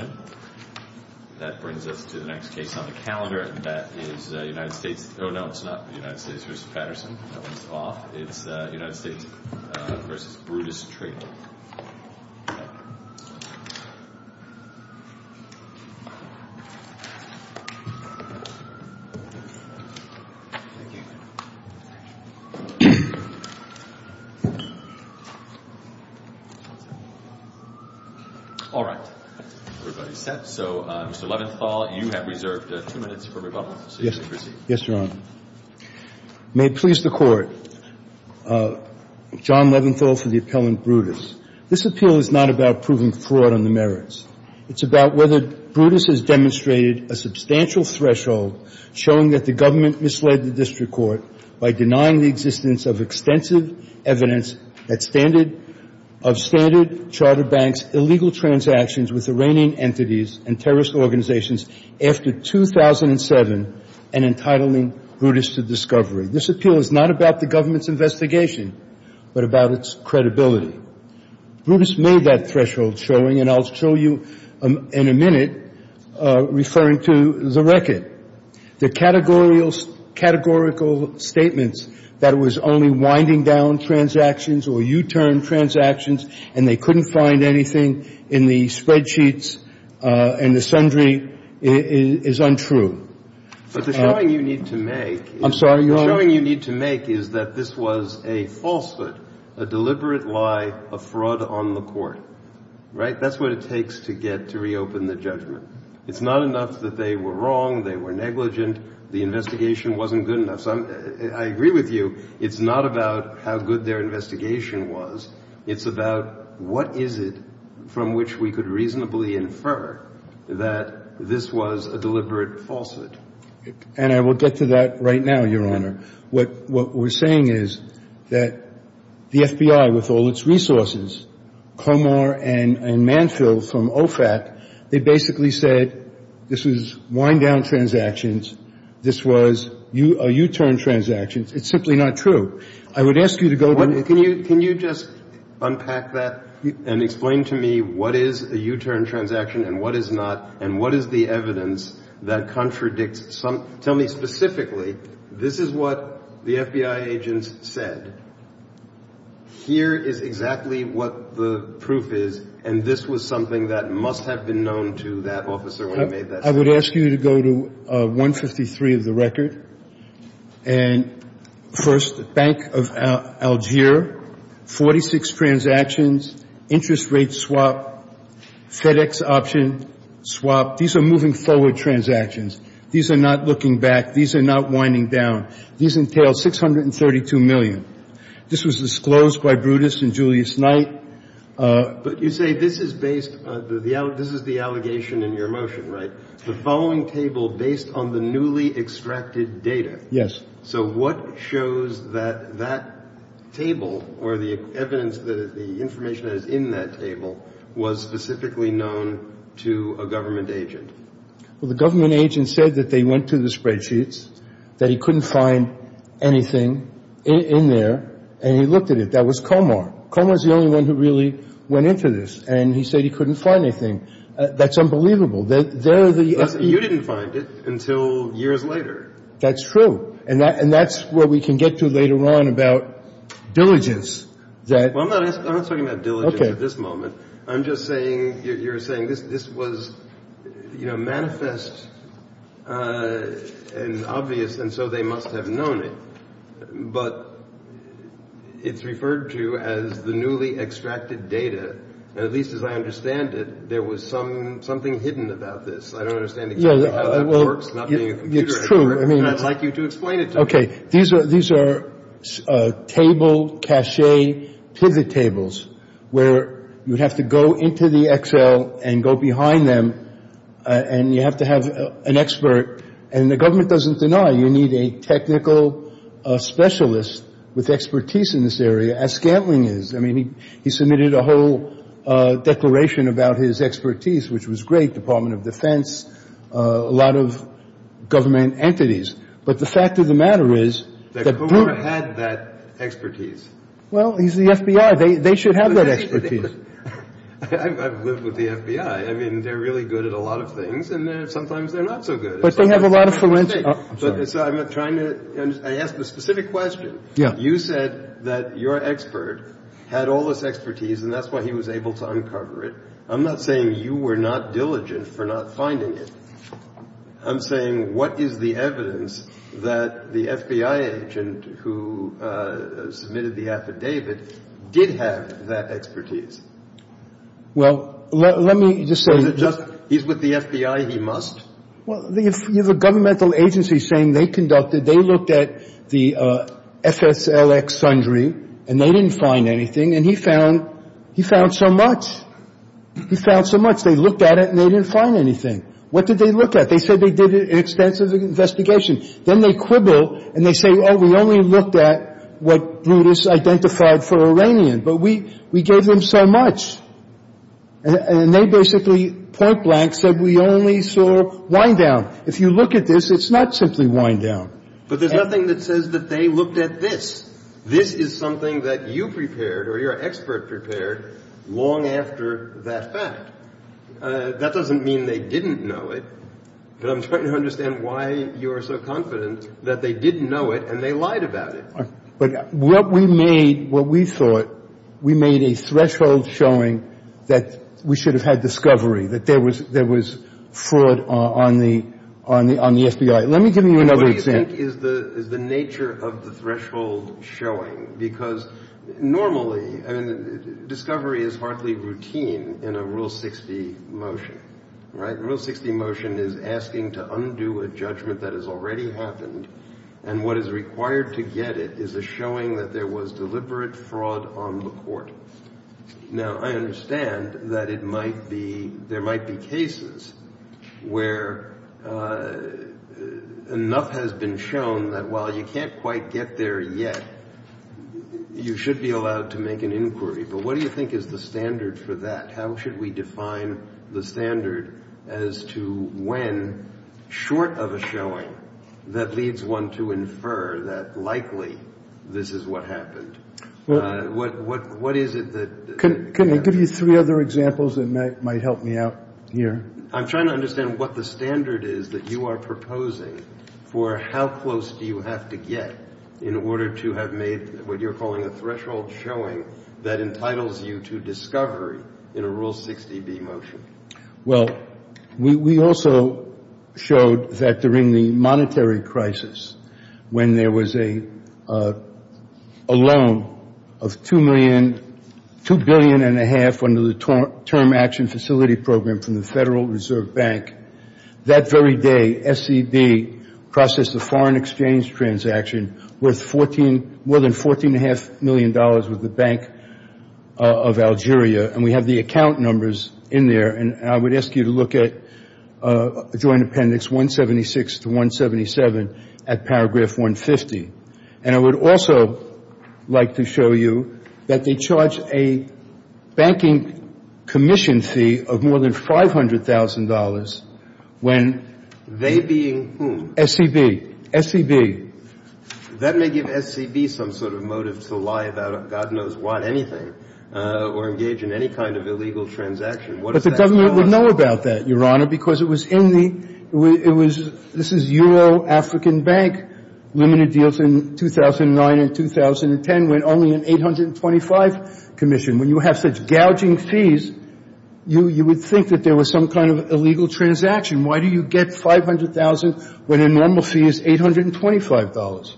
Brutus Trading, LLC Mr. Leventhal, you have reserved two minutes for rebuttal, so you may proceed. Yes, Your Honor. May it please the Court, John Leventhal for the appellant Brutus. This appeal is not about proving fraud on the merits. It's about whether Brutus has demonstrated a substantial threshold showing that the government misled the district court by denying the existence of extensive evidence of Standard Chartered Bank's illegal transactions with Iranian entities and terrorist organizations after 2007 and entitling Brutus to discovery. This appeal is not about the government's investigation, but about its credibility. Brutus made that threshold showing, and I'll show you in a minute, referring to the record. The categorical statements that it was only winding down transactions or U-turn transactions and they couldn't find anything in the spreadsheets and the sundry is untrue. But the showing you need to make is that this was a falsehood, a deliberate lie, a fraud on the court. Right? That's what it takes to get to reopen the judgment. It's not enough that they were wrong, they were negligent, the investigation wasn't good enough. I agree with you. It's not about how good their investigation was. It's about what is it from which we could reasonably infer that this was a deliberate falsehood. And I will get to that right now, Your Honor. What we're saying is that the FBI with all its resources, Comor and Manfield from OFAC, they basically said this was wind down transactions, this was U-turn transactions. It's simply not true. I would ask you to go to the record. Can you just unpack that and explain to me what is a U-turn transaction and what is not and what is the evidence that contradicts some – tell me specifically, this is what the FBI agents said. Here is exactly what the proof is and this was something that must have been known to that officer when he made that statement. I would ask you to go to 153 of the record. And first, Bank of Alger, 46 transactions, interest rate swap, FedEx option swap. These are moving forward transactions. These are not looking back. These are not winding down. These entail 632 million. This was disclosed by Brutus and Julius Knight. But you say this is based – this is the allegation in your motion, right? The following table based on the newly extracted data. Yes. So what shows that that table or the evidence that the information that is in that table was specifically known to a government agent? Well, the government agent said that they went to the spreadsheets, that he couldn't find anything in there and he looked at it. That was Comar. Comar is the only one who really went into this and he said he couldn't find anything. That's unbelievable. There are the – You didn't find it until years later. That's true. And that's what we can get to later on about diligence. I'm not talking about diligence at this moment. I'm just saying – you're saying this was manifest and obvious and so they must have known it. But it's referred to as the newly extracted data. And at least as I understand it, there was something hidden about this. I don't understand exactly how that works, not being a computer expert. It's true. And I'd like you to explain it to me. Okay. These are table cache pivot tables where you'd have to go into the Excel and go behind them and you have to have an expert. And the government doesn't deny you need a technical specialist with expertise in this area, as Scantling is. I mean, he submitted a whole declaration about his expertise, which was great, Department of Defense, a lot of government entities. But the fact of the matter is – Well, he's the FBI. They should have that expertise. I've lived with the FBI. I mean, they're really good at a lot of things. And sometimes they're not so good. But they have a lot of – I'm sorry. I'm trying to – I asked a specific question. You said that your expert had all this expertise and that's why he was able to uncover it. I'm not saying you were not diligent for not finding it. I'm saying what is the evidence that the FBI agent who submitted the affidavit did have that expertise? Well, let me just say – Is it just he's with the FBI, he must? Well, you have a governmental agency saying they conducted – they looked at the FSLX-Sundry and they didn't find anything. And he found so much. He found so much. They looked at it and they didn't find anything. What did they look at? They said they did an extensive investigation. Then they quibble and they say, oh, we only looked at what Brutus identified for Iranian. But we gave them so much. And they basically point blank said we only saw wind-down. If you look at this, it's not simply wind-down. But there's nothing that says that they looked at this. This is something that you prepared or your expert prepared long after that fact. That doesn't mean they didn't know it. But I'm trying to understand why you are so confident that they didn't know it and they lied about it. But what we made, what we thought, we made a threshold showing that we should have had discovery, that there was fraud on the FBI. Let me give you another example. What do you think is the nature of the threshold showing? Because normally, I mean, discovery is hardly routine in a Rule 60 motion, right? It's asking to undo a judgment that has already happened. And what is required to get it is a showing that there was deliberate fraud on the court. Now, I understand that it might be, there might be cases where enough has been shown that while you can't quite get there yet, you should be allowed to make an inquiry. But what do you think is the standard for that? How should we define the standard as to when, short of a showing, that leads one to infer that likely this is what happened? What is it that? Can I give you three other examples that might help me out here? I'm trying to understand what the standard is that you are proposing for how close do you have to get in order to have made what you're calling a threshold showing that entitles you to discovery in a Rule 60B motion? Well, we also showed that during the monetary crisis, when there was a loan of $2 billion and a half under the Term Action Facility Program from the Federal Reserve Bank, that very day SED processed a foreign exchange transaction worth more than $14.5 million with the Bank of Algeria. And we have the account numbers in there. And I would ask you to look at Joint Appendix 176 to 177 at paragraph 150. And I would also like to show you that they charge a banking commission fee of more than $500,000 when they being whom? SCB. SCB. That may give SCB some sort of motive to lie about God knows what, anything, or engage in any kind of illegal transaction. What does that tell us? I don't know about that, Your Honor, because it was in the – it was – this is Euro African Bank limited deals in 2009 and 2010 when only an 825 commission. When you have such gouging fees, you would think that there was some kind of illegal transaction. Why do you get 500,000 when a normal fee is $825?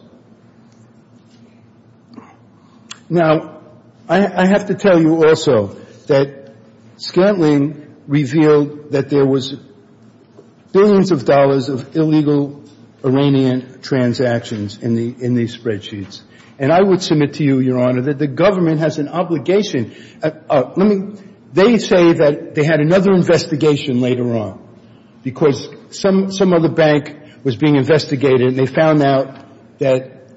Now, I have to tell you also that Scantling revealed that there was billions of dollars of illegal Iranian transactions in these spreadsheets. And I would submit to you, Your Honor, that the government has an obligation – let me – they say that they had another investigation later on because some other bank was being investigated and they found out that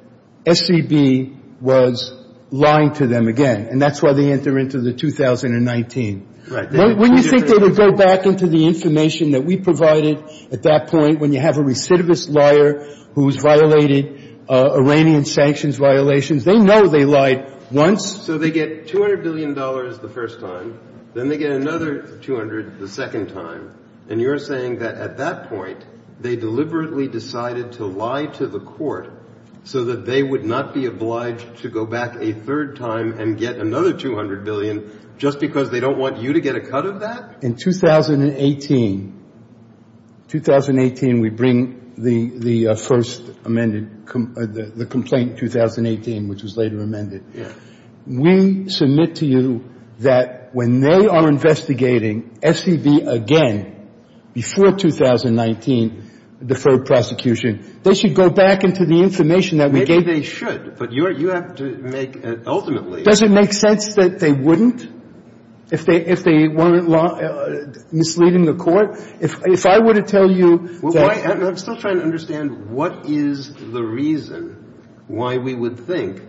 SCB was lying to them again, and that's why they enter into the 2019. Right. When you think they would go back into the information that we provided at that point when you have a recidivist liar who has violated Iranian sanctions violations, they know they lied once. So they get $200 billion the first time. Then they get another 200 the second time. And you're saying that at that point, they deliberately decided to lie to the court so that they would not be obliged to go back a third time and get another $200 billion just because they don't want you to get a cut of that? In 2018 – 2018, we bring the first amended – the complaint 2018, which was later amended. Yeah. We submit to you that when they are investigating SCB again before 2019 deferred prosecution, they should go back into the information that we gave them. Maybe they should, but you have to make – ultimately – Does it make sense that they wouldn't if they weren't misleading the court? If I were to tell you that – I'm still trying to understand what is the reason why we would think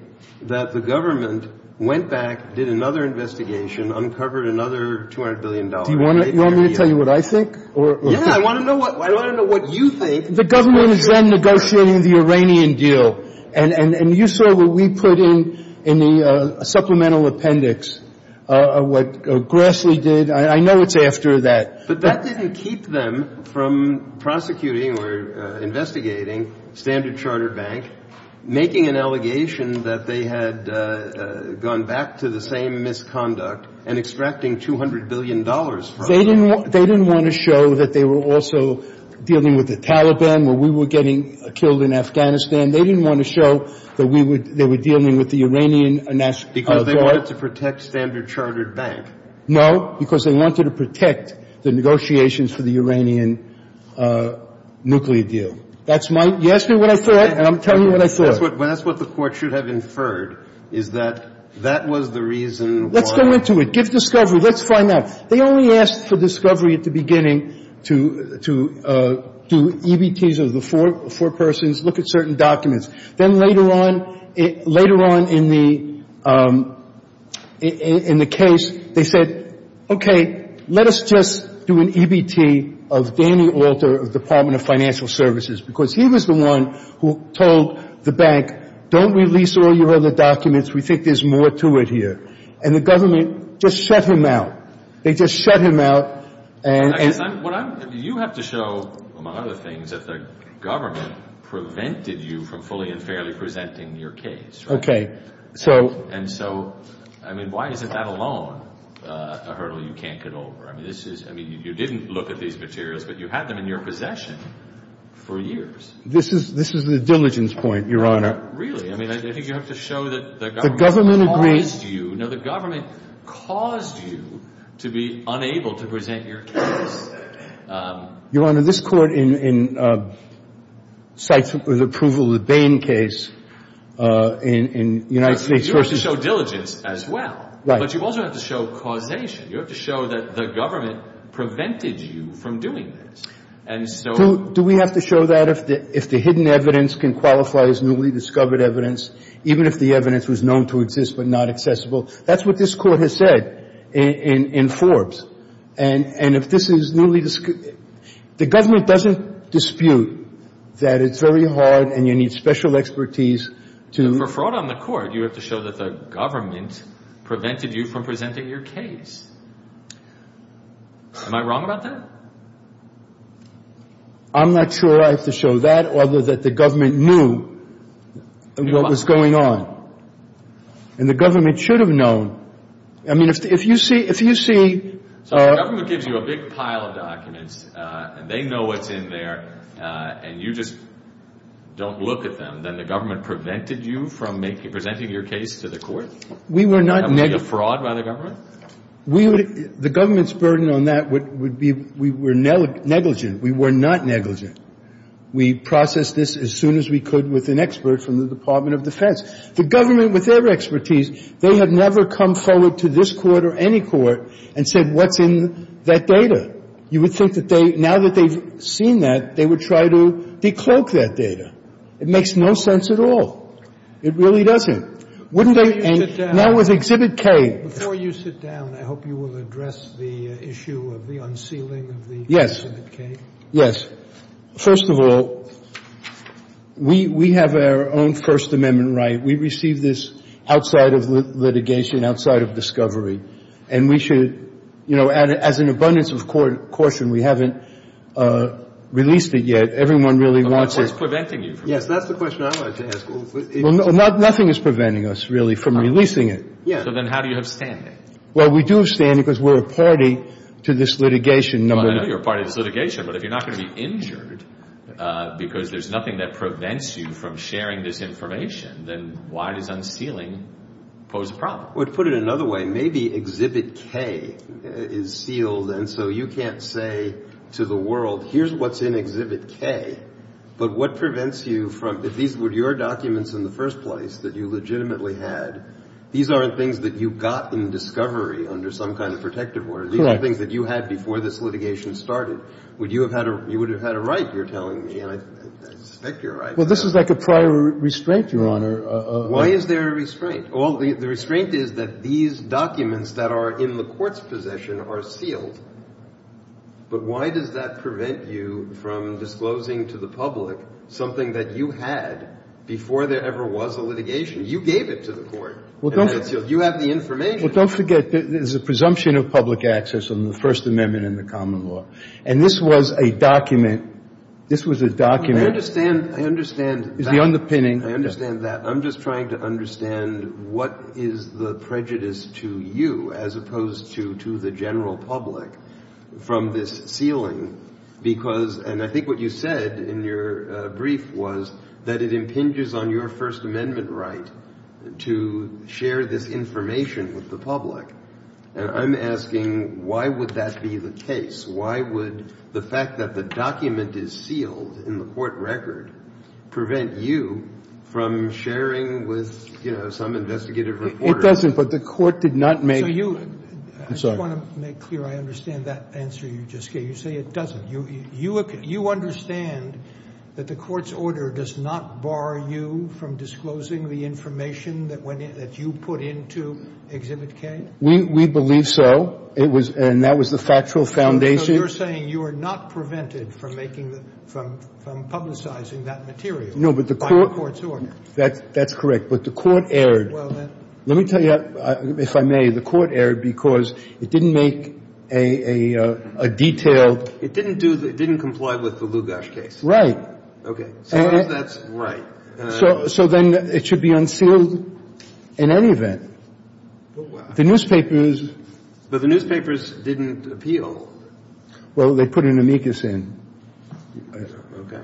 that the government went back, did another investigation, uncovered another $200 billion. Do you want me to tell you what I think? Yeah, I want to know what you think. The government is then negotiating the Iranian deal. And you saw what we put in the supplemental appendix, what Grassley did. I know it's after that. But that didn't keep them from prosecuting or investigating SCB, making an allegation that they had gone back to the same misconduct, and extracting $200 billion from it. They didn't want to show that they were also dealing with the Taliban, where we were getting killed in Afghanistan. They didn't want to show that they were dealing with the Iranian National Guard. Because they wanted to protect SCB. So you're saying they went back because they wanted to protect the Iranian National Guard? Because they wanted to protect the negotiations for the Iranian nuclear deal. That's my – you asked me what I thought, and I'm telling you what I thought. That's what the court should have inferred, is that that was the reason why – Let's go into it. Give discovery. Let's find out. They only asked for discovery at the beginning to do EBTs of the four persons, look at certain documents. Then later on, later on in the case, they said, okay, let us just do an EBT of Danny Alter of the Department of Financial Services, because he was the one who told the bank, don't release all your other documents. We think there's more to it here. And the government just shut him out. They just shut him out and – You have to show, among other things, that the government prevented you from fully and fairly presenting your case. Okay. And so, I mean, why isn't that alone a hurdle you can't get over? I mean, this is – I mean, you didn't look at these materials, but you had them in your possession for years. This is the diligence point, Your Honor. Really? I mean, I think you have to show that the government caused you – to be unable to present your case. Your Honor, this Court in – cites the approval of the Bain case in United States – You have to show diligence as well. Right. But you also have to show causation. You have to show that the government prevented you from doing this. And so – Do we have to show that if the hidden evidence can qualify as newly discovered evidence, even if the evidence was known to exist but not accessible? That's what this Court has said in Forbes. And if this is newly – the government doesn't dispute that it's very hard and you need special expertise to – For fraud on the Court, you have to show that the government prevented you from presenting your case. Am I wrong about that? I'm not sure I have to show that, other than the government knew what was going on. And the government should have known. I mean, if you see – So if the government gives you a big pile of documents and they know what's in there and you just don't look at them, then the government prevented you from presenting your case to the Court? We were not – That would be a fraud by the government? The government's burden on that would be we were negligent. We were not negligent. We processed this as soon as we could with an expert from the Department of Defense. The government, with their expertise, they have never come forward to this Court or any Court and said what's in that data. You would think that they – now that they've seen that, they would try to decloak that data. It makes no sense at all. It really doesn't. Wouldn't they – Before you sit down – Now with Exhibit K. Before you sit down, I hope you will address the issue of the unsealing of the Exhibit K. Yes. First of all, we have our own First Amendment right. We received this outside of litigation, outside of discovery. And we should – you know, as an abundance of caution, we haven't released it yet. Everyone really wants it. But what's preventing you from – Yes, that's the question I like to ask. Well, nothing is preventing us, really, from releasing it. So then how do you have standing? Well, we do have standing because we're a party to this litigation. Well, I know you're a party to this litigation. But if you're not going to be injured because there's nothing that prevents you from sharing this information, then why does unsealing pose a problem? Well, to put it another way, maybe Exhibit K is sealed, and so you can't say to the world here's what's in Exhibit K. But what prevents you from – if these were your documents in the first place that you legitimately had, these aren't things that you got in discovery under some kind of protective order. Correct. These are things that you had before this litigation started. You would have had a right, you're telling me, and I suspect you're right. Well, this is like a prior restraint, Your Honor. Why is there a restraint? Well, the restraint is that these documents that are in the court's possession are sealed. But why does that prevent you from disclosing to the public something that you had before there ever was a litigation? You gave it to the court. You have the information. Well, don't forget there's a presumption of public access on the First Amendment in the common law. And this was a document – this was a document. I understand. I understand. It's the underpinning. I understand that. I'm just trying to understand what is the prejudice to you as opposed to the general public from this sealing, because – and I think what you said in your brief was that it impinges on your First Amendment right to share this information with the public. And I'm asking why would that be the case? Why would the fact that the document is sealed in the court record prevent you from sharing with, you know, some investigative reporter? It doesn't, but the court did not make – So you – I'm sorry. I just want to make clear I understand that answer you just gave. You say it doesn't. You understand that the court's order does not bar you from disclosing the information that you put into Exhibit K? We believe so. It was – and that was the factual foundation. So you're saying you are not prevented from making the – from publicizing that material by the court's order. No, but the court – that's correct. But the court erred. Well, then – Let me tell you, if I may, the court erred because it didn't make a detailed – It didn't do – it didn't comply with the Lugash case. Right. Okay. So that's right. So then it should be unsealed in any event. The newspapers – But the newspapers didn't appeal. Well, they put an amicus in. Okay.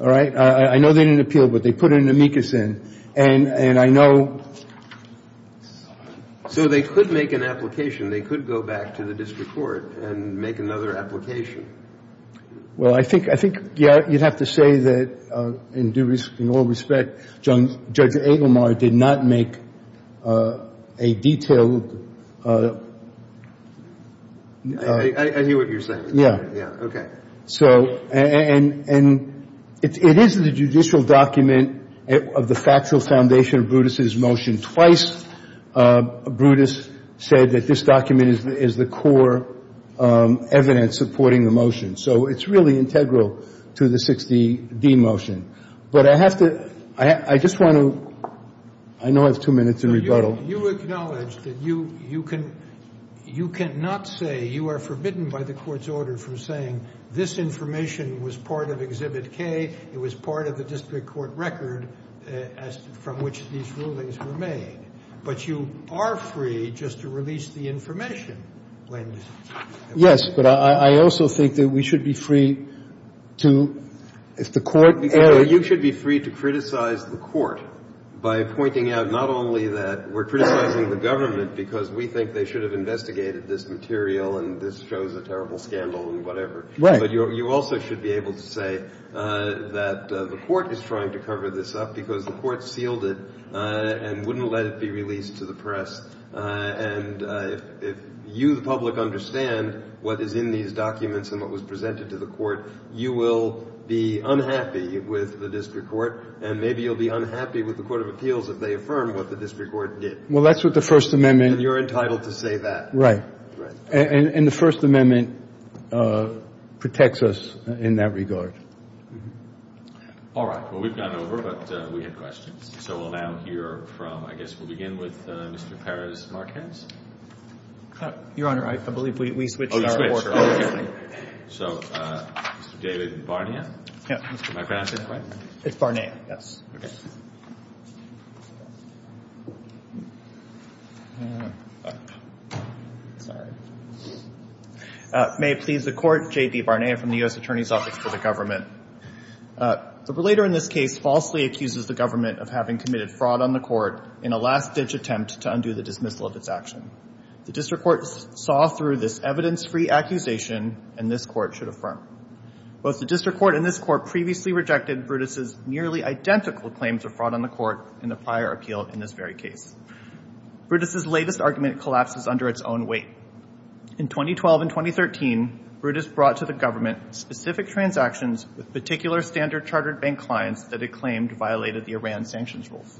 All right? I know they didn't appeal, but they put an amicus in. And I know – So they could make an application. They could go back to the district court and make another application. Well, I think – I think, yeah, you'd have to say that in due – in all respect, Judge Agelmar did not make a detailed – I hear what you're saying. Yeah. Yeah. Okay. So – and it is the judicial document of the factual foundation of Brutus' motion. Twice Brutus said that this document is the core evidence supporting the motion. So it's really integral to the 60D motion. But I have to – I just want to – I know I have two minutes to rebuttal. You acknowledge that you can – you cannot say you are forbidden by the court's order from saying this information was part of Exhibit K, it was part of the district court record from which these rulings were made. But you are free just to release the information when – Yes, but I also think that we should be free to – if the court – You should be free to criticize the court by pointing out not only that we're criticizing the government because we think they should have investigated this material and this shows a terrible scandal and whatever. Right. But you also should be able to say that the court is trying to cover this up because the court sealed it and wouldn't let it be released to the press. And if you, the public, understand what is in these documents and what was presented to the court, you will be unhappy with the district court and maybe you'll be unhappy with the court of appeals if they affirm what the district court did. Well, that's what the First Amendment – And you're entitled to say that. Right. Right. And the First Amendment protects us in that regard. All right. Well, we've gone over, but we have questions. So we'll now hear from – I guess we'll begin with Mr. Perez-Marquez. Your Honor, I believe we switched our order. So, David Barnea, Mr. Marquez. It's Barnea, yes. Sorry. May it please the Court, J.D. Barnea from the U.S. Attorney's Office to the Government. The relator in this case falsely accuses the government of having committed fraud on the court in a last-ditch attempt to undo the dismissal of its action. The district court saw through this evidence-free accusation, and this court should affirm. Both the district court and this court previously rejected Brutus' nearly identical claims of fraud on the court in the prior appeal in this very case. Brutus' latest argument collapses under its own weight. In 2012 and 2013, Brutus brought to the government specific transactions with particular Standard Chartered Bank clients that it claimed violated the Iran sanctions rules.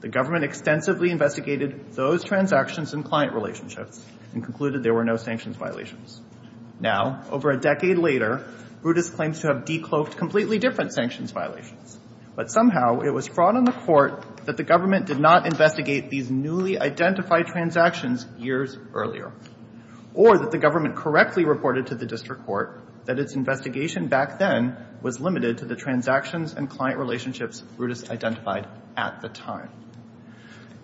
The government extensively investigated those transactions and client relationships and concluded there were no sanctions violations. Now, over a decade later, Brutus claims to have decloaked completely different sanctions violations. But somehow, it was fraud on the court that the government did not investigate these newly identified transactions years earlier, or that the government correctly reported to the district court that its investigation back then was limited to the transactions and client relationships Brutus identified at the time.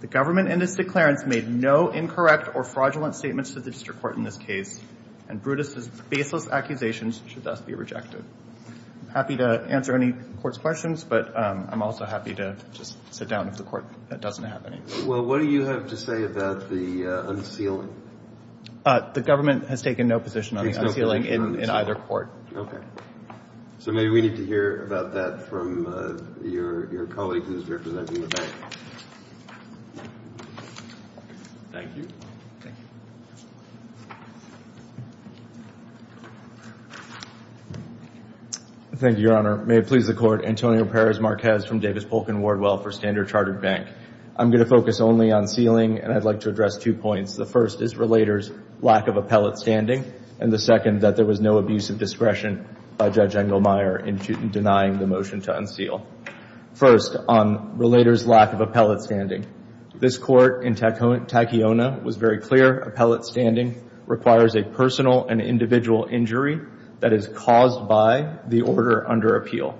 The government in this declarance made no incorrect or fraudulent statements to the district court in this case, and Brutus' baseless accusations should thus be rejected. I'm happy to answer any court's questions, but I'm also happy to just sit down if the court doesn't have any. Well, what do you have to say about the unsealing? The government has taken no position on the unsealing in either court. So maybe we need to hear about that from your colleague who is representing the bank. Thank you, Your Honor. May it please the Court. Antonio Perez Marquez from Davis Polk & Wardwell for Standard Chartered Bank. I'm going to focus only on sealing, and I'd like to address two points. The first is Relator's lack of appellate standing. And the second, that there was no abuse of discretion by Judge Engelmeyer in denying the motion to unseal. First, on Relator's lack of appellate standing. This court in Tacayona was very clear. Appellate standing requires a personal and individual injury that is caused by the order under appeal.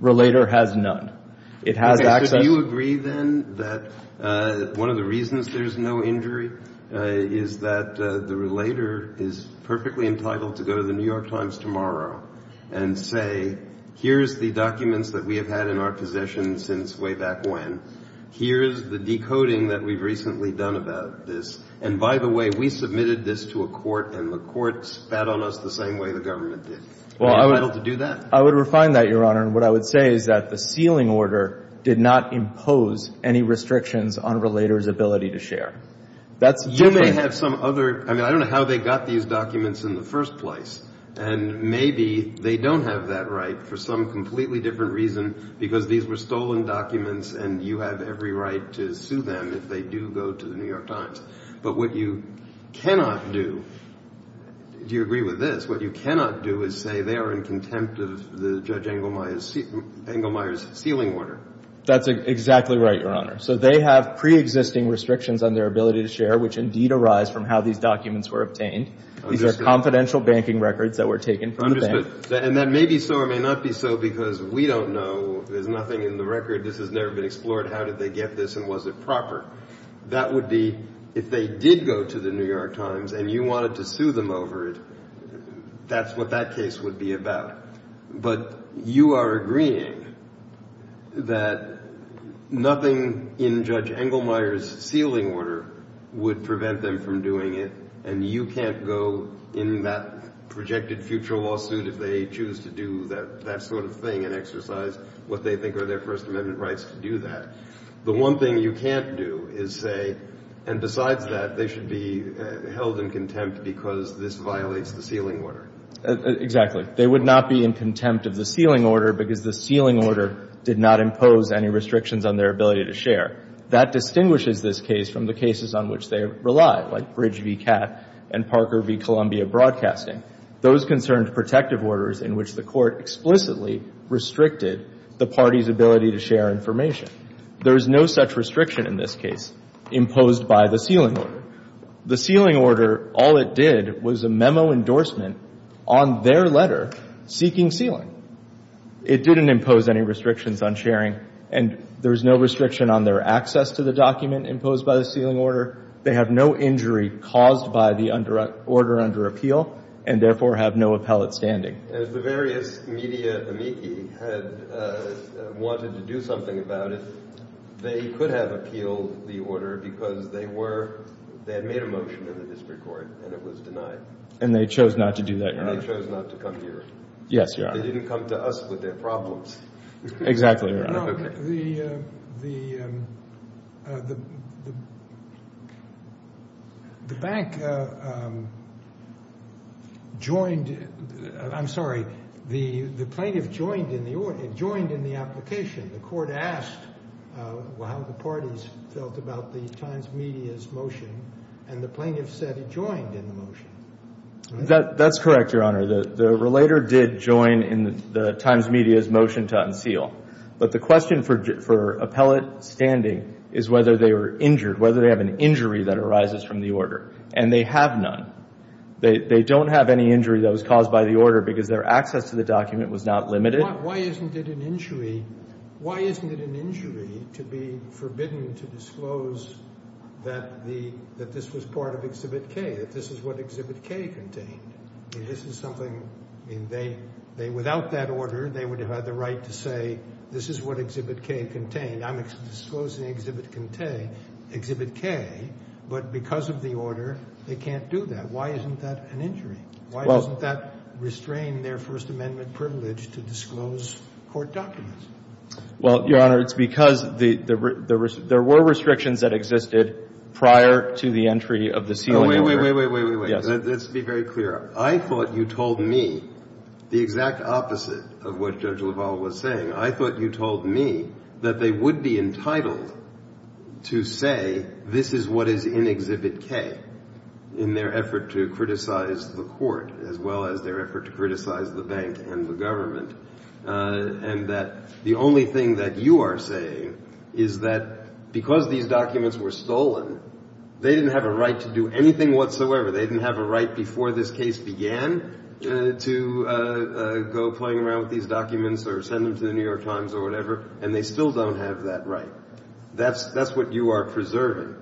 Relator has none. Do you agree, then, that one of the reasons there's no injury is that the Relator is perfectly entitled to go to the New York Times tomorrow and say, here's the documents that we have had in our possession since way back when. Here's the decoding that we've recently done about this. And by the way, we submitted this to a court, and the court spat on us the same way the government did. Are you entitled to do that? I would refine that, Your Honor. And what I would say is that the sealing order did not impose any restrictions on Relator's ability to share. You may have some other – I mean, I don't know how they got these documents in the first place. And maybe they don't have that right for some completely different reason because these were stolen documents and you have every right to sue them if they do go to the New York Times. But what you cannot do – do you agree with this? What you cannot do is say they are in contempt of Judge Engelmeyer's sealing order. That's exactly right, Your Honor. So they have preexisting restrictions on their ability to share, which indeed arise from how these documents were obtained. These are confidential banking records that were taken from the bank. And that may be so or may not be so because we don't know. There's nothing in the record. This has never been explored. How did they get this and was it proper? That would be if they did go to the New York Times and you wanted to sue them over it, that's what that case would be about. But you are agreeing that nothing in Judge Engelmeyer's sealing order would prevent them from doing it and you can't go in that projected future lawsuit if they choose to do that sort of thing and exercise what they think are their First Amendment rights to do that. The one thing you can't do is say, and besides that, they should be held in contempt because this violates the sealing order. Exactly. They would not be in contempt of the sealing order because the sealing order did not impose any restrictions on their ability to share. That distinguishes this case from the cases on which they rely, like Bridge v. Catt and Parker v. Columbia Broadcasting, those concerned protective orders in which the court explicitly restricted the party's ability to share information. There is no such restriction in this case imposed by the sealing order. The sealing order, all it did was a memo endorsement on their letter seeking sealing. It didn't impose any restrictions on sharing and there's no restriction on their access to the document imposed by the sealing order. They have no injury caused by the order under appeal and therefore have no appellate standing. If the various media amici had wanted to do something about it, they could have appealed the order because they were, they had made a motion in the district court and it was denied. And they chose not to do that, Your Honor. And they chose not to come here. Yes, Your Honor. They didn't come to us with their problems. Exactly, Your Honor. The bank joined, I'm sorry, the plaintiff joined in the application. The court asked how the parties felt about the Times Media's motion and the plaintiff said he joined in the motion. That's correct, Your Honor. The relator did join in the Times Media's motion to unseal. But the question for appellate standing is whether they were injured, whether they have an injury that arises from the order. And they have none. They don't have any injury that was caused by the order because their access to the document was not limited. Why isn't it an injury to be forbidden to disclose that this was part of Exhibit K, that this is what Exhibit K contained? This is something, I mean, they, without that order, they would have had the right to say this is what Exhibit K contained. I'm disclosing Exhibit K, but because of the order, they can't do that. Why isn't that an injury? Why doesn't that restrain their First Amendment privilege to disclose court documents? Well, Your Honor, it's because there were restrictions that existed prior to the entry of the sealing order. Wait, wait, wait, wait, wait, wait. Yes. Let's be very clear. I thought you told me the exact opposite of what Judge LaValle was saying. I thought you told me that they would be entitled to say this is what is in Exhibit K in their effort to criticize the court as well as their effort to criticize the bank and the government, and that the only thing that you are saying is that because these documents were stolen, they didn't have a right to do anything whatsoever. They didn't have a right before this case began to go playing around with these documents or send them to the New York Times or whatever, and they still don't have that right. That's what you are preserving,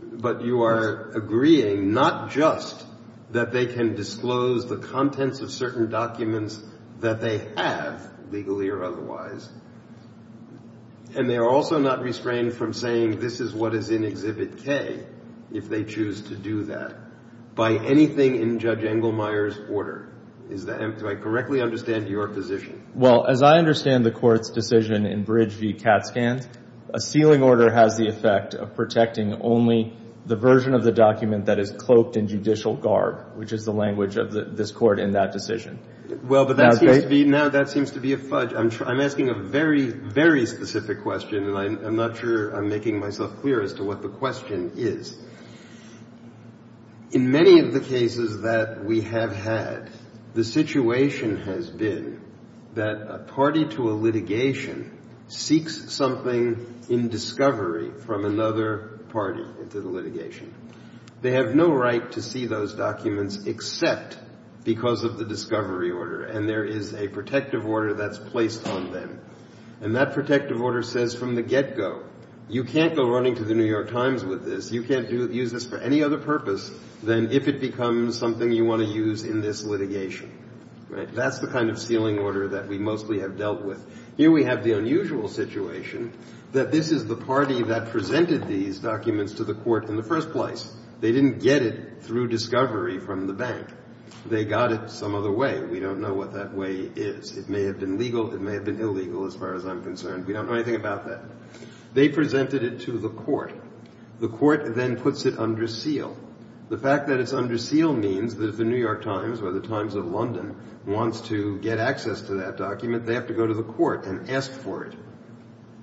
but you are agreeing not just that they can disclose the contents of certain documents that they have, legally or otherwise, and they are also not restrained from saying this is what is in Exhibit K if they choose to do that by anything in Judge Engelmeyer's order. Do I correctly understand your position? Well, as I understand the Court's decision in Bridge v. Katzkand, a sealing order has the effect of protecting only the version of the document that is cloaked in judicial garb, which is the language of this Court in that decision. Well, but that seems to be a fudge. I'm asking a very, very specific question, and I'm not sure I'm making myself clear as to what the question is. In many of the cases that we have had, the situation has been that a party to a litigation seeks something in discovery from another party into the litigation. They have no right to see those documents except because of the discovery order, and there is a protective order that's placed on them. And that protective order says from the get-go, you can't go running to the New York Times with this. You can't use this for any other purpose than if it becomes something you want to use in this litigation. That's the kind of sealing order that we mostly have dealt with. Here we have the unusual situation that this is the party that presented these documents to the Court in the first place. They didn't get it through discovery from the bank. They got it some other way. We don't know what that way is. It may have been legal. It may have been illegal as far as I'm concerned. We don't know anything about that. They presented it to the Court. The Court then puts it under seal. The fact that it's under seal means that if the New York Times or the Times of London wants to get access to that document, they have to go to the Court and ask for it.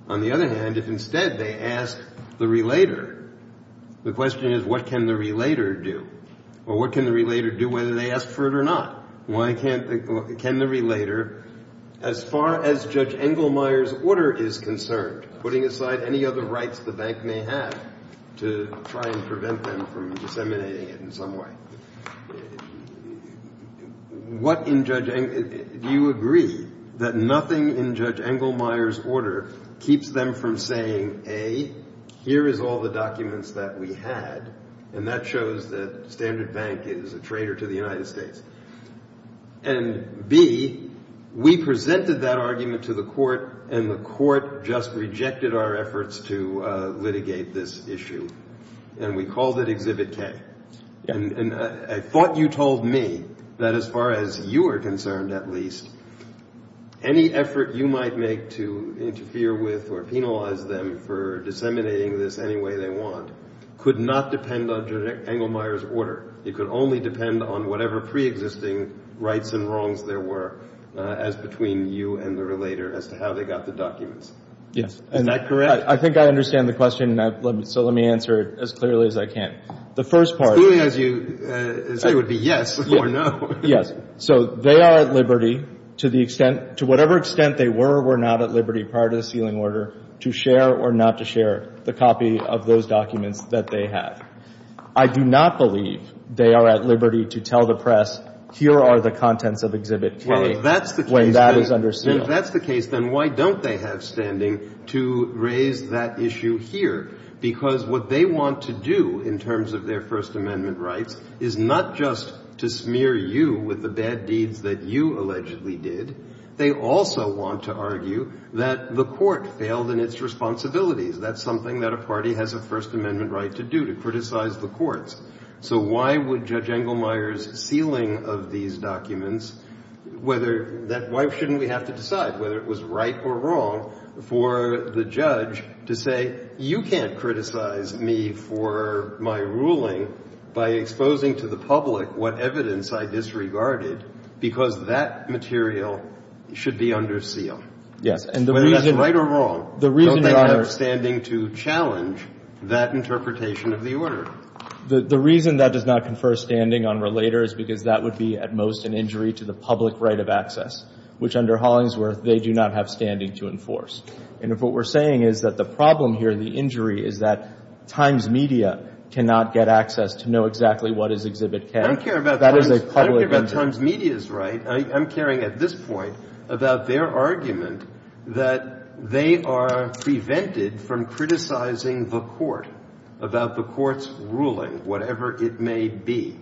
On the other hand, if instead they ask the relator, the question is, what can the relator do? Or what can the relator do whether they ask for it or not? As far as Judge Engelmeyer's order is concerned, putting aside any other rights the bank may have to try and prevent them from disseminating it in some way, do you agree that nothing in Judge Engelmeyer's order keeps them from saying, A, here is all the documents that we had, and that shows that Standard Bank is a traitor to the United States? And, B, we presented that argument to the Court, and the Court just rejected our efforts to litigate this issue, and we called it Exhibit K. And I thought you told me that as far as you are concerned, at least, any effort you might make to interfere with or penalize them for disseminating this any way they want could not depend on Judge Engelmeyer's order. It could only depend on whatever preexisting rights and wrongs there were as between you and the relator as to how they got the documents. Yes. Is that correct? I think I understand the question, so let me answer it as clearly as I can. The first part of it — As clearly as you say would be yes or no. Yes. So they are at liberty, to the extent — to whatever extent they were or were not at liberty prior to the sealing order, to share or not to share the copy of those documents that they have. I do not believe they are at liberty to tell the press, here are the contents of Exhibit K — Well, if that's the case, then —— when that is under seal. And if that's the case, then why don't they have standing to raise that issue here? Because what they want to do in terms of their First Amendment rights is not just to smear you with the bad deeds that you allegedly did. They also want to argue that the Court failed in its responsibilities. That's something that a party has a First Amendment right to do, to criticize the courts. So why would Judge Engelmeyer's sealing of these documents, whether — why shouldn't we have to decide whether it was right or wrong for the judge to say, you can't criticize me for my ruling by exposing to the public what evidence I disregarded, because that material should be under seal? Yes. Whether that's right or wrong, don't they have standing to challenge that interpretation of the order? The reason that does not confer standing on Relator is because that would be, at most, an injury to the public right of access, which, under Hollingsworth, they do not have standing to enforce. And if what we're saying is that the problem here, the injury, is that Times Media cannot get access to know exactly what is Exhibit K — I don't care about —— that is a public injury. I don't care about Times Media's right. I'm caring, at this point, about their argument that they are prevented from criticizing the court about the court's ruling, whatever it may be.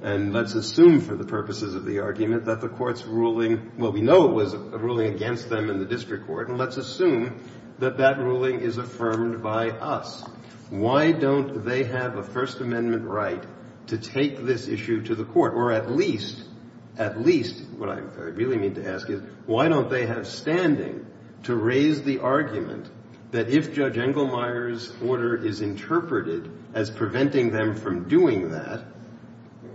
And let's assume, for the purposes of the argument, that the court's ruling — well, we know it was a ruling against them in the district court, and let's assume that that ruling is affirmed by us. Why don't they have a First Amendment right to take this issue to the court, or at least — at least, what I really mean to ask is, why don't they have standing to raise the argument that if Judge Engelmeyer's order is interpreted as preventing them from doing that,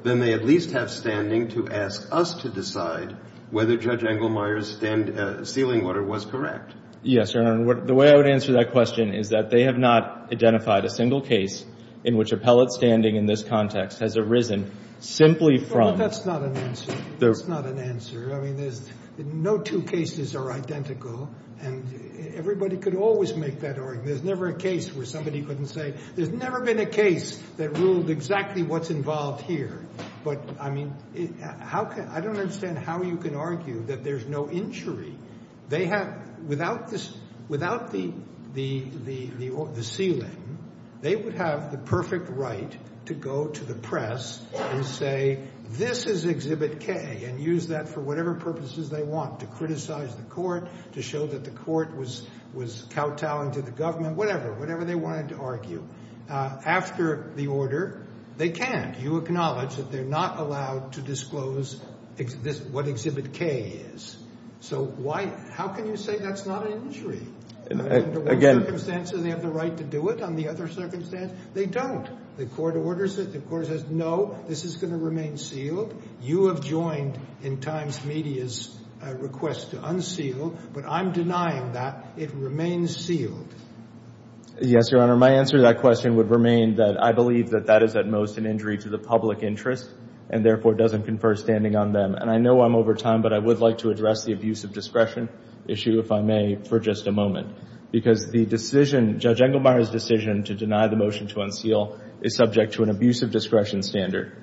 then they at least have standing to ask us to decide whether Judge Engelmeyer's sealing order was correct? Yes, Your Honor. The way I would answer that question is that they have not identified a single case in which appellate standing in this context has arisen simply from — No, that's not an answer. That's not an answer. I mean, there's — no two cases are identical, and everybody could always make that argument. There's never a case where somebody couldn't say — there's never been a case that ruled exactly what's involved here. But, I mean, how can — I don't understand how you can argue that there's no injury. They have — without the sealing, they would have the perfect right to go to the press and say, this is Exhibit K, and use that for whatever purposes they want, to criticize the court, to show that the court was kowtowing to the government, whatever, whatever they wanted to argue. After the order, they can't. You acknowledge that they're not allowed to disclose what Exhibit K is. So why — how can you say that's not an injury? Under one circumstance, do they have the right to do it? Under the other circumstance, they don't. The court orders it. The court says, no, this is going to remain sealed. You have joined, in times, media's request to unseal, but I'm denying that. It remains sealed. Yes, Your Honor. My answer to that question would remain that I believe that that is, at most, an injury to the public interest, and therefore doesn't confer standing on them. And I know I'm over time, but I would like to address the abuse of discretion issue, if I may, for just a moment, because the decision — Judge Engelmeyer's decision to deny the motion to unseal is subject to an abuse of discretion standard.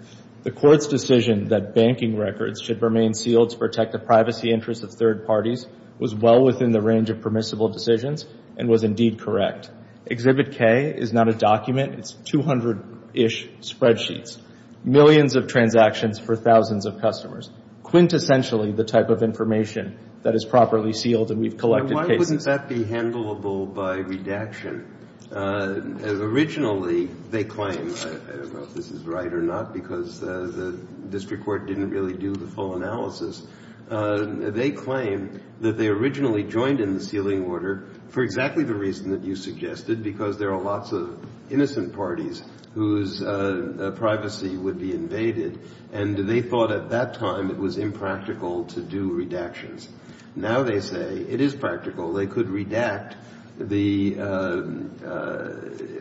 The court's decision that banking records should remain sealed to protect the privacy interests of third parties was well within the range of permissible decisions and was indeed correct. Exhibit K is not a document. It's 200-ish spreadsheets. Millions of transactions for thousands of customers. Quintessentially the type of information that is properly sealed, and we've collected cases. Why wouldn't that be handleable by redaction? Originally, they claim — I don't know if this is right or not, because the district court didn't really do the full analysis. They claim that they originally joined in the sealing order for exactly the reason that you suggested, because there are lots of innocent parties whose privacy would be invaded, and they thought at that time it was impractical to do redactions. Now they say it is practical. They could redact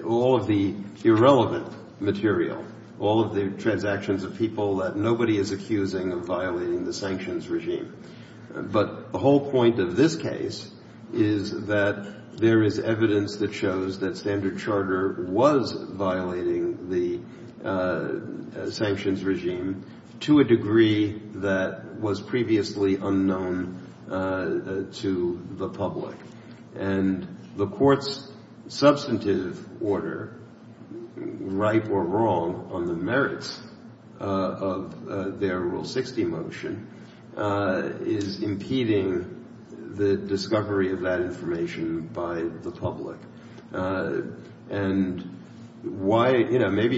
all of the irrelevant material, all of the transactions of people that nobody is accusing of violating the sanctions regime. But the whole point of this case is that there is evidence that shows that Standard Charter was violating the sanctions regime to a degree that was previously unknown to the public. And the court's substantive order, right or wrong, on the merits of their Rule 60 motion is impeding the discovery of that information by the public. And why — you know, maybe —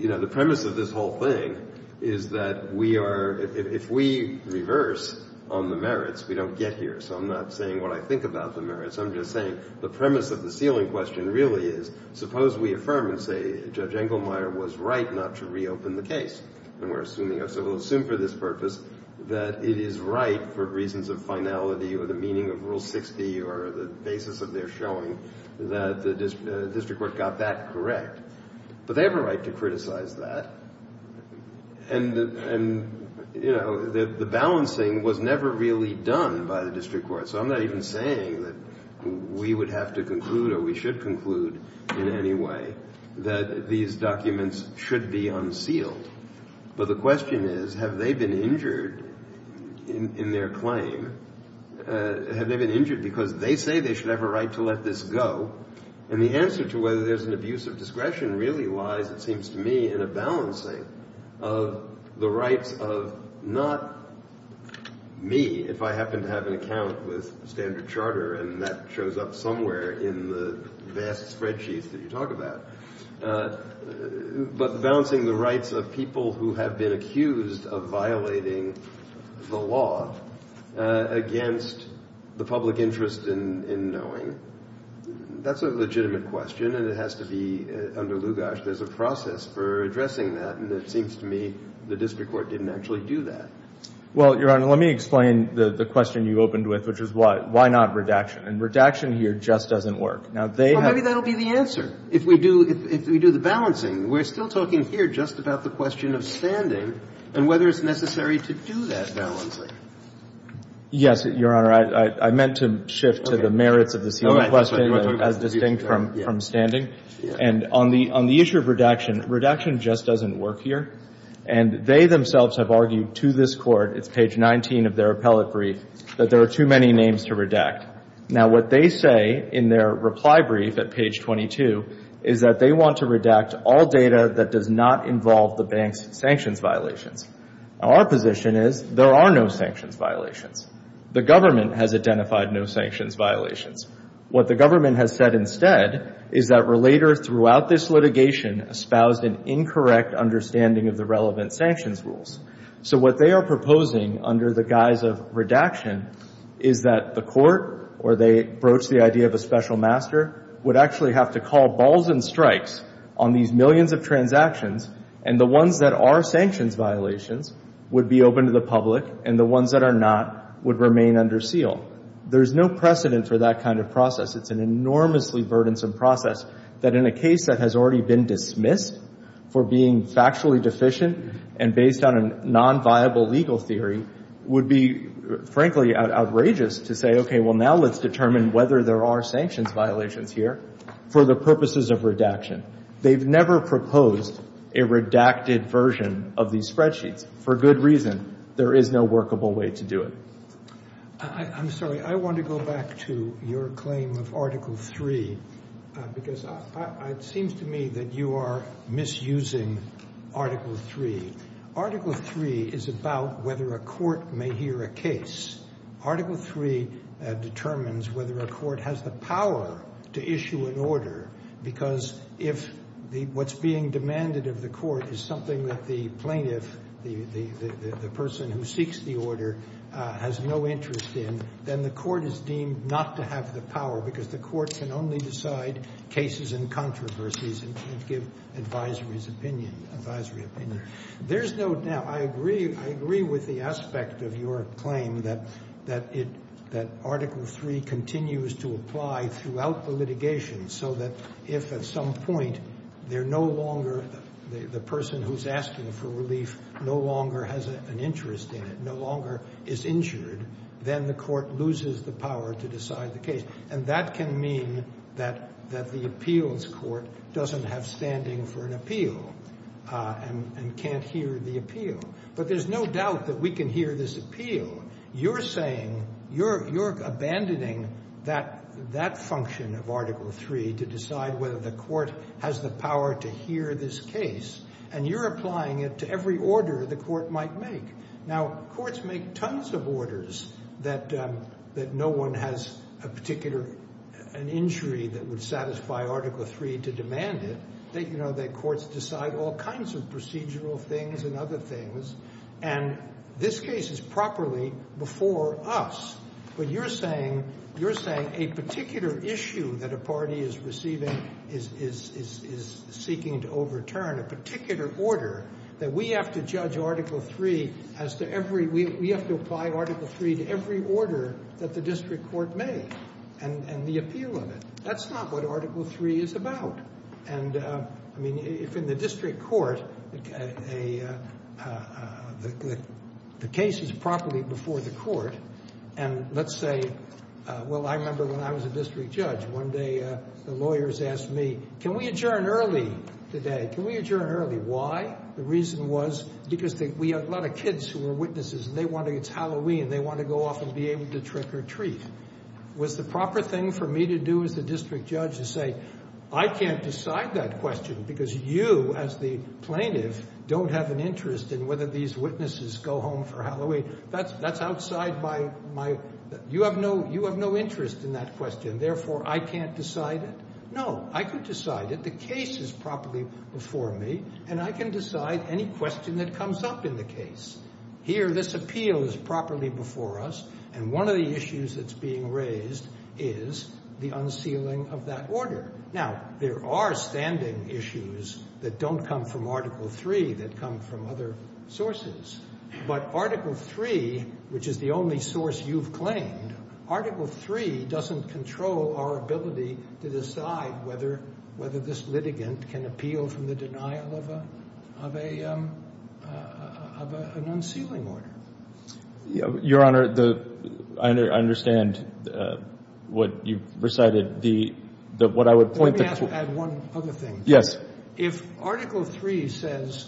you know, the premise of this whole thing is that we are — if we reverse on the merits, we don't get here. So I'm not saying what I think about the merits. I'm just saying the premise of the sealing question really is, suppose we affirm and say Judge Engelmeyer was right not to reopen the case. And we're assuming — so we'll assume for this purpose that it is right for reasons of finality or the meaning of Rule 60 or the basis of their showing that the district court got that correct. But they have a right to criticize that. And, you know, the balancing was never really done by the district court. So I'm not even saying that we would have to conclude or we should conclude in any way that these documents should be unsealed. But the question is, have they been injured in their claim? Have they been injured because they say they should have a right to let this go? And the answer to whether there's an abuse of discretion really lies, it seems to me, in a balancing of the rights of not me, if I happen to have an account with Standard Charter, and that shows up somewhere in the vast spreadsheets that you talk about, but balancing the rights of people who have been accused of violating the law against the public interest in knowing. That's a legitimate question. And it has to be under lugash. There's a process for addressing that. And it seems to me the district court didn't actually do that. Well, Your Honor, let me explain the question you opened with, which is why not redaction? And redaction here just doesn't work. Well, maybe that will be the answer if we do the balancing. We're still talking here just about the question of standing and whether it's necessary to do that balancing. Yes, Your Honor. I meant to shift to the merits of this question as distinct from standing. And on the issue of redaction, redaction just doesn't work here. And they themselves have argued to this court, it's page 19 of their appellate brief, that there are too many names to redact. Now, what they say in their reply brief at page 22 is that they want to redact all data that does not involve the bank's sanctions violations. Now, our position is there are no sanctions violations. The government has identified no sanctions violations. What the government has said instead is that relators throughout this litigation espoused an incorrect understanding of the relevant sanctions rules. So what they are proposing under the guise of redaction is that the court, or they broach the idea of a special master, would actually have to call balls and strikes on these millions of transactions, and the ones that are sanctions violations would be open to the public, and the ones that are not would remain under seal. There is no precedent for that kind of process. It's an enormously burdensome process that in a case that has already been dismissed for being factually deficient and based on a nonviable legal theory would be, frankly, outrageous to say, okay, well, now let's determine whether there are sanctions violations here for the purposes of redaction. They've never proposed a redacted version of these spreadsheets. For good reason. There is no workable way to do it. I'm sorry. I want to go back to your claim of Article 3 because it seems to me that you are misusing Article 3. Article 3 is about whether a court may hear a case. Article 3 determines whether a court has the power to issue an order because if what's being demanded of the court is something that the plaintiff, the person who seeks the order, has no interest in, then the court is deemed not to have the power because the court can only decide cases and controversies and give advisory opinion. There's no doubt. I agree with the aspect of your claim that Article 3 continues to apply throughout the litigation so that if at some point the person who's asking for relief no longer has an interest in it, no longer is injured, then the court loses the power to decide the case. And that can mean that the appeals court doesn't have standing for an appeal and can't hear the appeal. But there's no doubt that we can hear this appeal. You're saying you're abandoning that function of Article 3 to decide whether the court has the power to hear this case, and you're applying it to every order the court might make. Now, courts make tons of orders that no one has a particular injury that would satisfy Article 3 to demand it. Courts decide all kinds of procedural things and other things, and this case is properly before us. But you're saying a particular issue that a party is seeking to overturn, that we have to apply Article 3 to every order that the district court may, and the appeal of it. That's not what Article 3 is about. And, I mean, if in the district court the case is properly before the court, and let's say, well, I remember when I was a district judge, one day the lawyers asked me, can we adjourn early today? Can we adjourn early? Why? The reason was because we have a lot of kids who are witnesses and they want to, it's Halloween, they want to go off and be able to trick-or-treat. Was the proper thing for me to do as the district judge to say, I can't decide that question because you, as the plaintiff, don't have an interest in whether these witnesses go home for Halloween? That's outside my, you have no interest in that question, therefore I can't decide it? No, I can decide it, the case is properly before me, and I can decide any question that comes up in the case. Here, this appeal is properly before us, and one of the issues that's being raised is the unsealing of that order. Now, there are standing issues that don't come from Article 3 that come from other sources. But Article 3, which is the only source you've claimed, Article 3 doesn't control our ability to decide whether this litigant can appeal from the denial of an unsealing order. Your Honor, I understand what you've recited. Let me add one other thing. Yes. If Article 3 says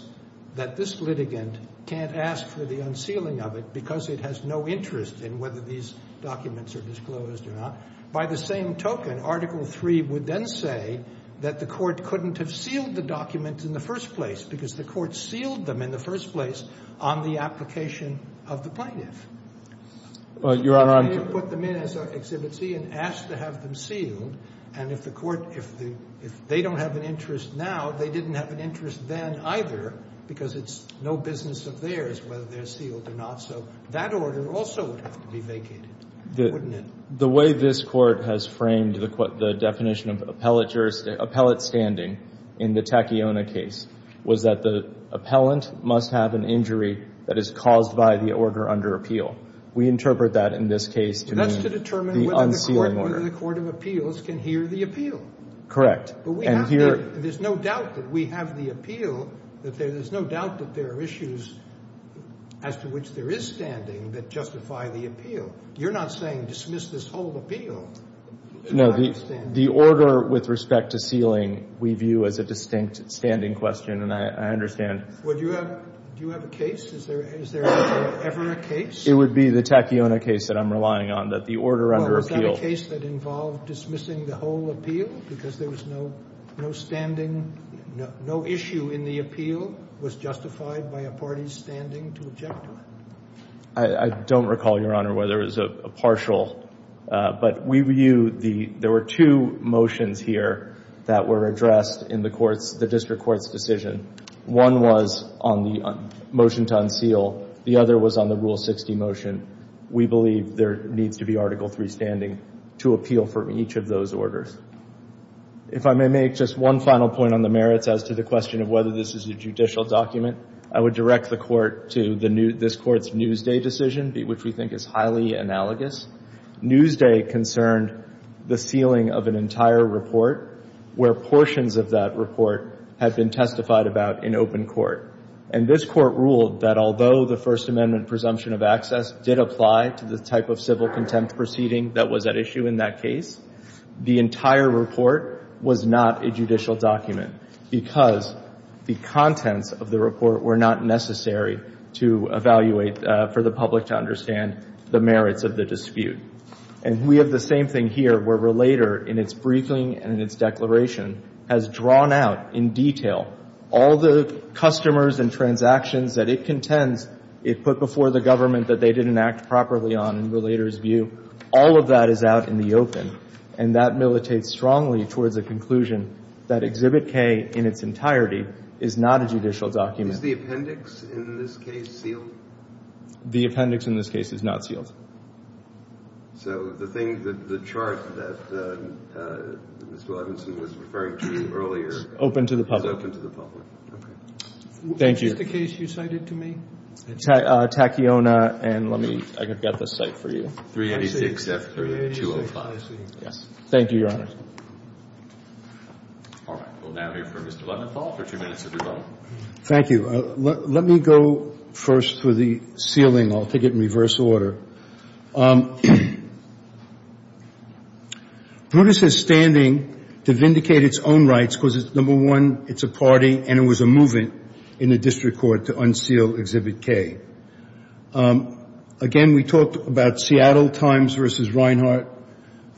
that this litigant can't ask for the unsealing of it because it has no interest in whether these documents are disclosed or not, by the same token, Article 3 would then say that the court couldn't have sealed the documents in the first place because the court sealed them in the first place on the application of the plaintiff. Well, Your Honor, I'm If they don't have an interest now, they didn't have an interest then either because it's no business of theirs whether they're sealed or not. So that order also would have to be vacated, wouldn't it? The way this Court has framed the definition of appellate standing in the Tacciona case was that the appellant must have an injury that is caused by the order under appeal. We interpret that in this case to mean the unsealing order. The Court of Appeals can hear the appeal. There's no doubt that we have the appeal. There's no doubt that there are issues as to which there is standing that justify the appeal. You're not saying dismiss this whole appeal. No, the order with respect to sealing we view as a distinct standing question, and I understand. Do you have a case? Is there ever a case? It would be the Tacciona case that I'm relying on, that the order under appeal Is there a case that involved dismissing the whole appeal because there was no standing, no issue in the appeal was justified by a party's standing to object to it? I don't recall, Your Honor, whether it was a partial, but we view the There were two motions here that were addressed in the District Court's decision. One was on the motion to unseal. The other was on the Rule 60 motion. We believe there needs to be Article III standing to appeal for each of those orders. If I may make just one final point on the merits as to the question of whether this is a judicial document, I would direct the Court to this Court's Newsday decision, which we think is highly analogous. Newsday concerned the sealing of an entire report where portions of that report had been testified about in open court. And this Court ruled that although the First Amendment presumption of access did apply to the type of civil contempt proceeding that was at issue in that case, the entire report was not a judicial document because the contents of the report were not necessary to evaluate for the public to understand the merits of the dispute. And we have the same thing here where Relator, in its briefing and in its declaration, has drawn out in detail all the customers and transactions that it contends it put before the government that they didn't act properly on in Relator's view. All of that is out in the open, and that militates strongly towards the conclusion that Exhibit K in its entirety is not a judicial document. Is the appendix in this case sealed? The appendix in this case is not sealed. So the thing that the chart that Mr. Levinson was referring to earlier is open to the public. Is open to the public. Thank you. What is the case you cited to me? Tacchiona and let me, I've got this cite for you. 386F30205. Yes. Thank you, Your Honor. All right. We'll now hear from Mr. Leventhal for two minutes of rebuttal. Thank you. Let me go first with the sealing. I'll take it in reverse order. Brutus is standing to vindicate its own rights because, number one, it's a party and it was a movement in the district court to unseal Exhibit K. Again, we talked about Seattle Times versus Reinhart,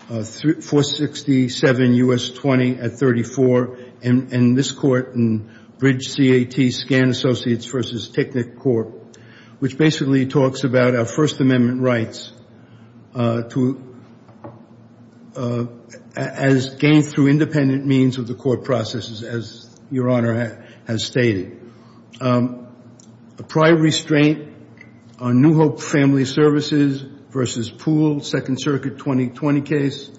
467 U.S. 20 at 34, and this court in Bridge CAT Scan Associates versus Technicorp, which basically talks about our First Amendment rights as gained through independent means of the court processes, as Your Honor has stated. A prior restraint on New Hope Family Services versus Poole, Second Circuit 2020 case.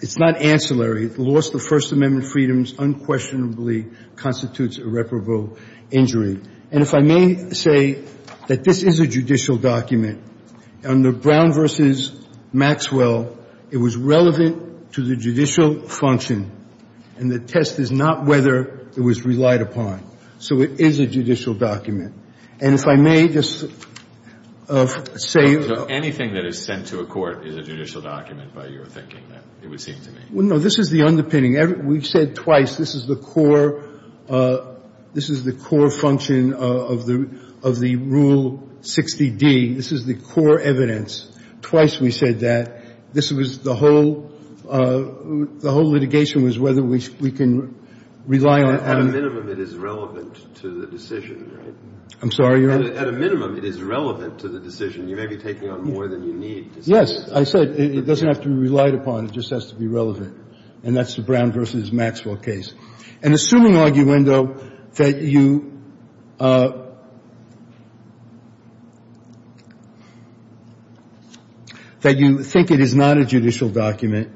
It's not ancillary. The loss of the First Amendment freedoms unquestionably constitutes irreparable injury. And if I may say that this is a judicial document. Under Brown versus Maxwell, it was relevant to the judicial function, and the test is not whether it was relied upon. So it is a judicial document. And if I may just say. Anything that is sent to a court is a judicial document by your thinking, it would seem to me. No, this is the underpinning. We've said twice this is the core function of the Rule 60D. This is the core evidence. Twice we said that. This was the whole litigation was whether we can rely on. At a minimum, it is relevant to the decision, right? I'm sorry, Your Honor? At a minimum, it is relevant to the decision. You may be taking on more than you need. Yes. I said it doesn't have to be relied upon. It just has to be relevant. And that's the Brown versus Maxwell case. And assuming, arguendo, that you think it is not a judicial document,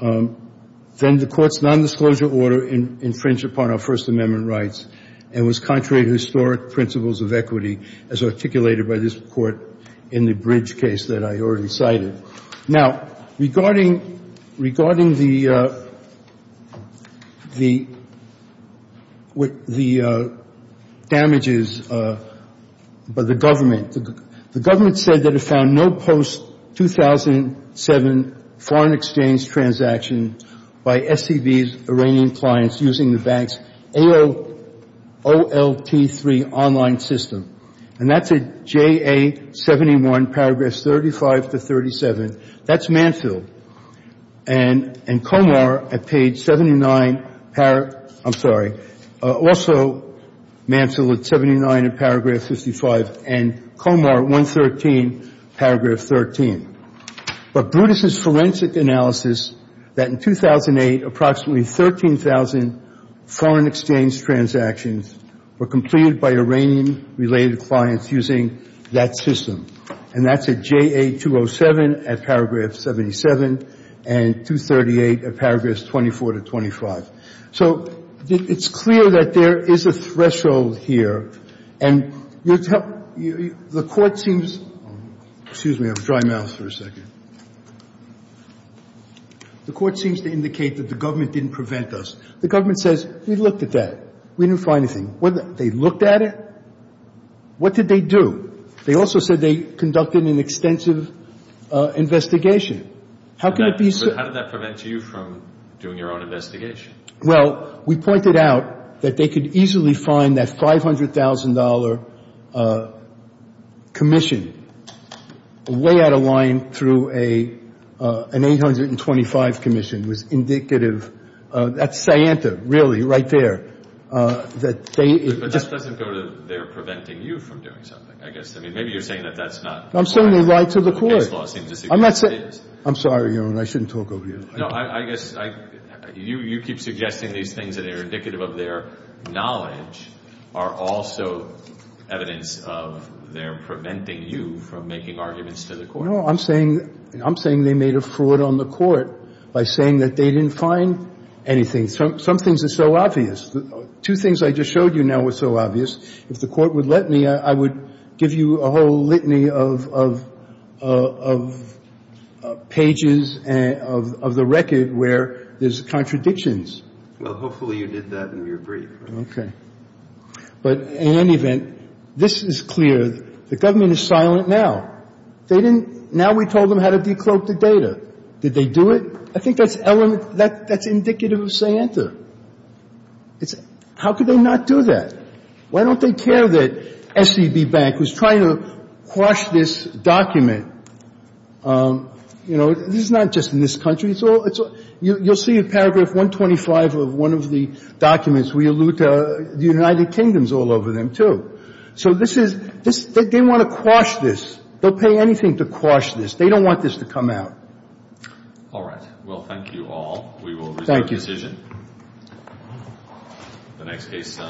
then the Court's nondisclosure order infringed upon our First Amendment rights and was contrary to historic principles of equity, as articulated by this Court in the Bridge case that I already cited. Now, regarding the damages by the government, the government said that it found no post-2007 foreign exchange transaction by SEB's Iranian clients using the bank's AOLT3 online system. And that's at JA71, paragraphs 35 to 37. That's Manfield. And Comar at page 79, I'm sorry, also Manfield at 79 in paragraph 55, and Comar 113, paragraph 13. But Brutus' forensic analysis that in 2008, approximately 13,000 foreign exchange transactions were completed by Iranian-related clients using that system. And that's at JA207 at paragraph 77 and 238 at paragraphs 24 to 25. So it's clear that there is a threshold here. And the Court seems to indicate that the government didn't prevent us. The government says, we looked at that. We didn't find anything. They looked at it? What did they do? They also said they conducted an extensive investigation. How can it be so? But how did that prevent you from doing your own investigation? Well, we pointed out that they could easily find that $500,000 commission way out of line through an 825 commission. It was indicative. That's Sianta, really, right there. But that doesn't go to they're preventing you from doing something, I guess. I mean, maybe you're saying that that's not. I'm saying they lied to the Court. I'm sorry, Your Honor, I shouldn't talk over you. No, I guess you keep suggesting these things that are indicative of their knowledge are also evidence of their preventing you from making arguments to the Court. No, I'm saying they made a fraud on the Court by saying that they didn't find anything. Some things are so obvious. Two things I just showed you now were so obvious. If the Court would let me, I would give you a whole litany of pages of the record where there's contradictions. Well, hopefully you did that and you agree. Okay. But in any event, this is clear. The government is silent now. They didn't. Now we told them how to decloak the data. Did they do it? I think that's indicative of Sianta. How could they not do that? Why don't they care that SCB Bank was trying to quash this document? You know, this is not just in this country. You'll see paragraph 125 of one of the documents. We allude to the United Kingdom's all over them, too. So this is they want to quash this. They'll pay anything to quash this. They don't want this to come out. All right. Well, thank you all. We will resume the decision. Thank you. The next case, please.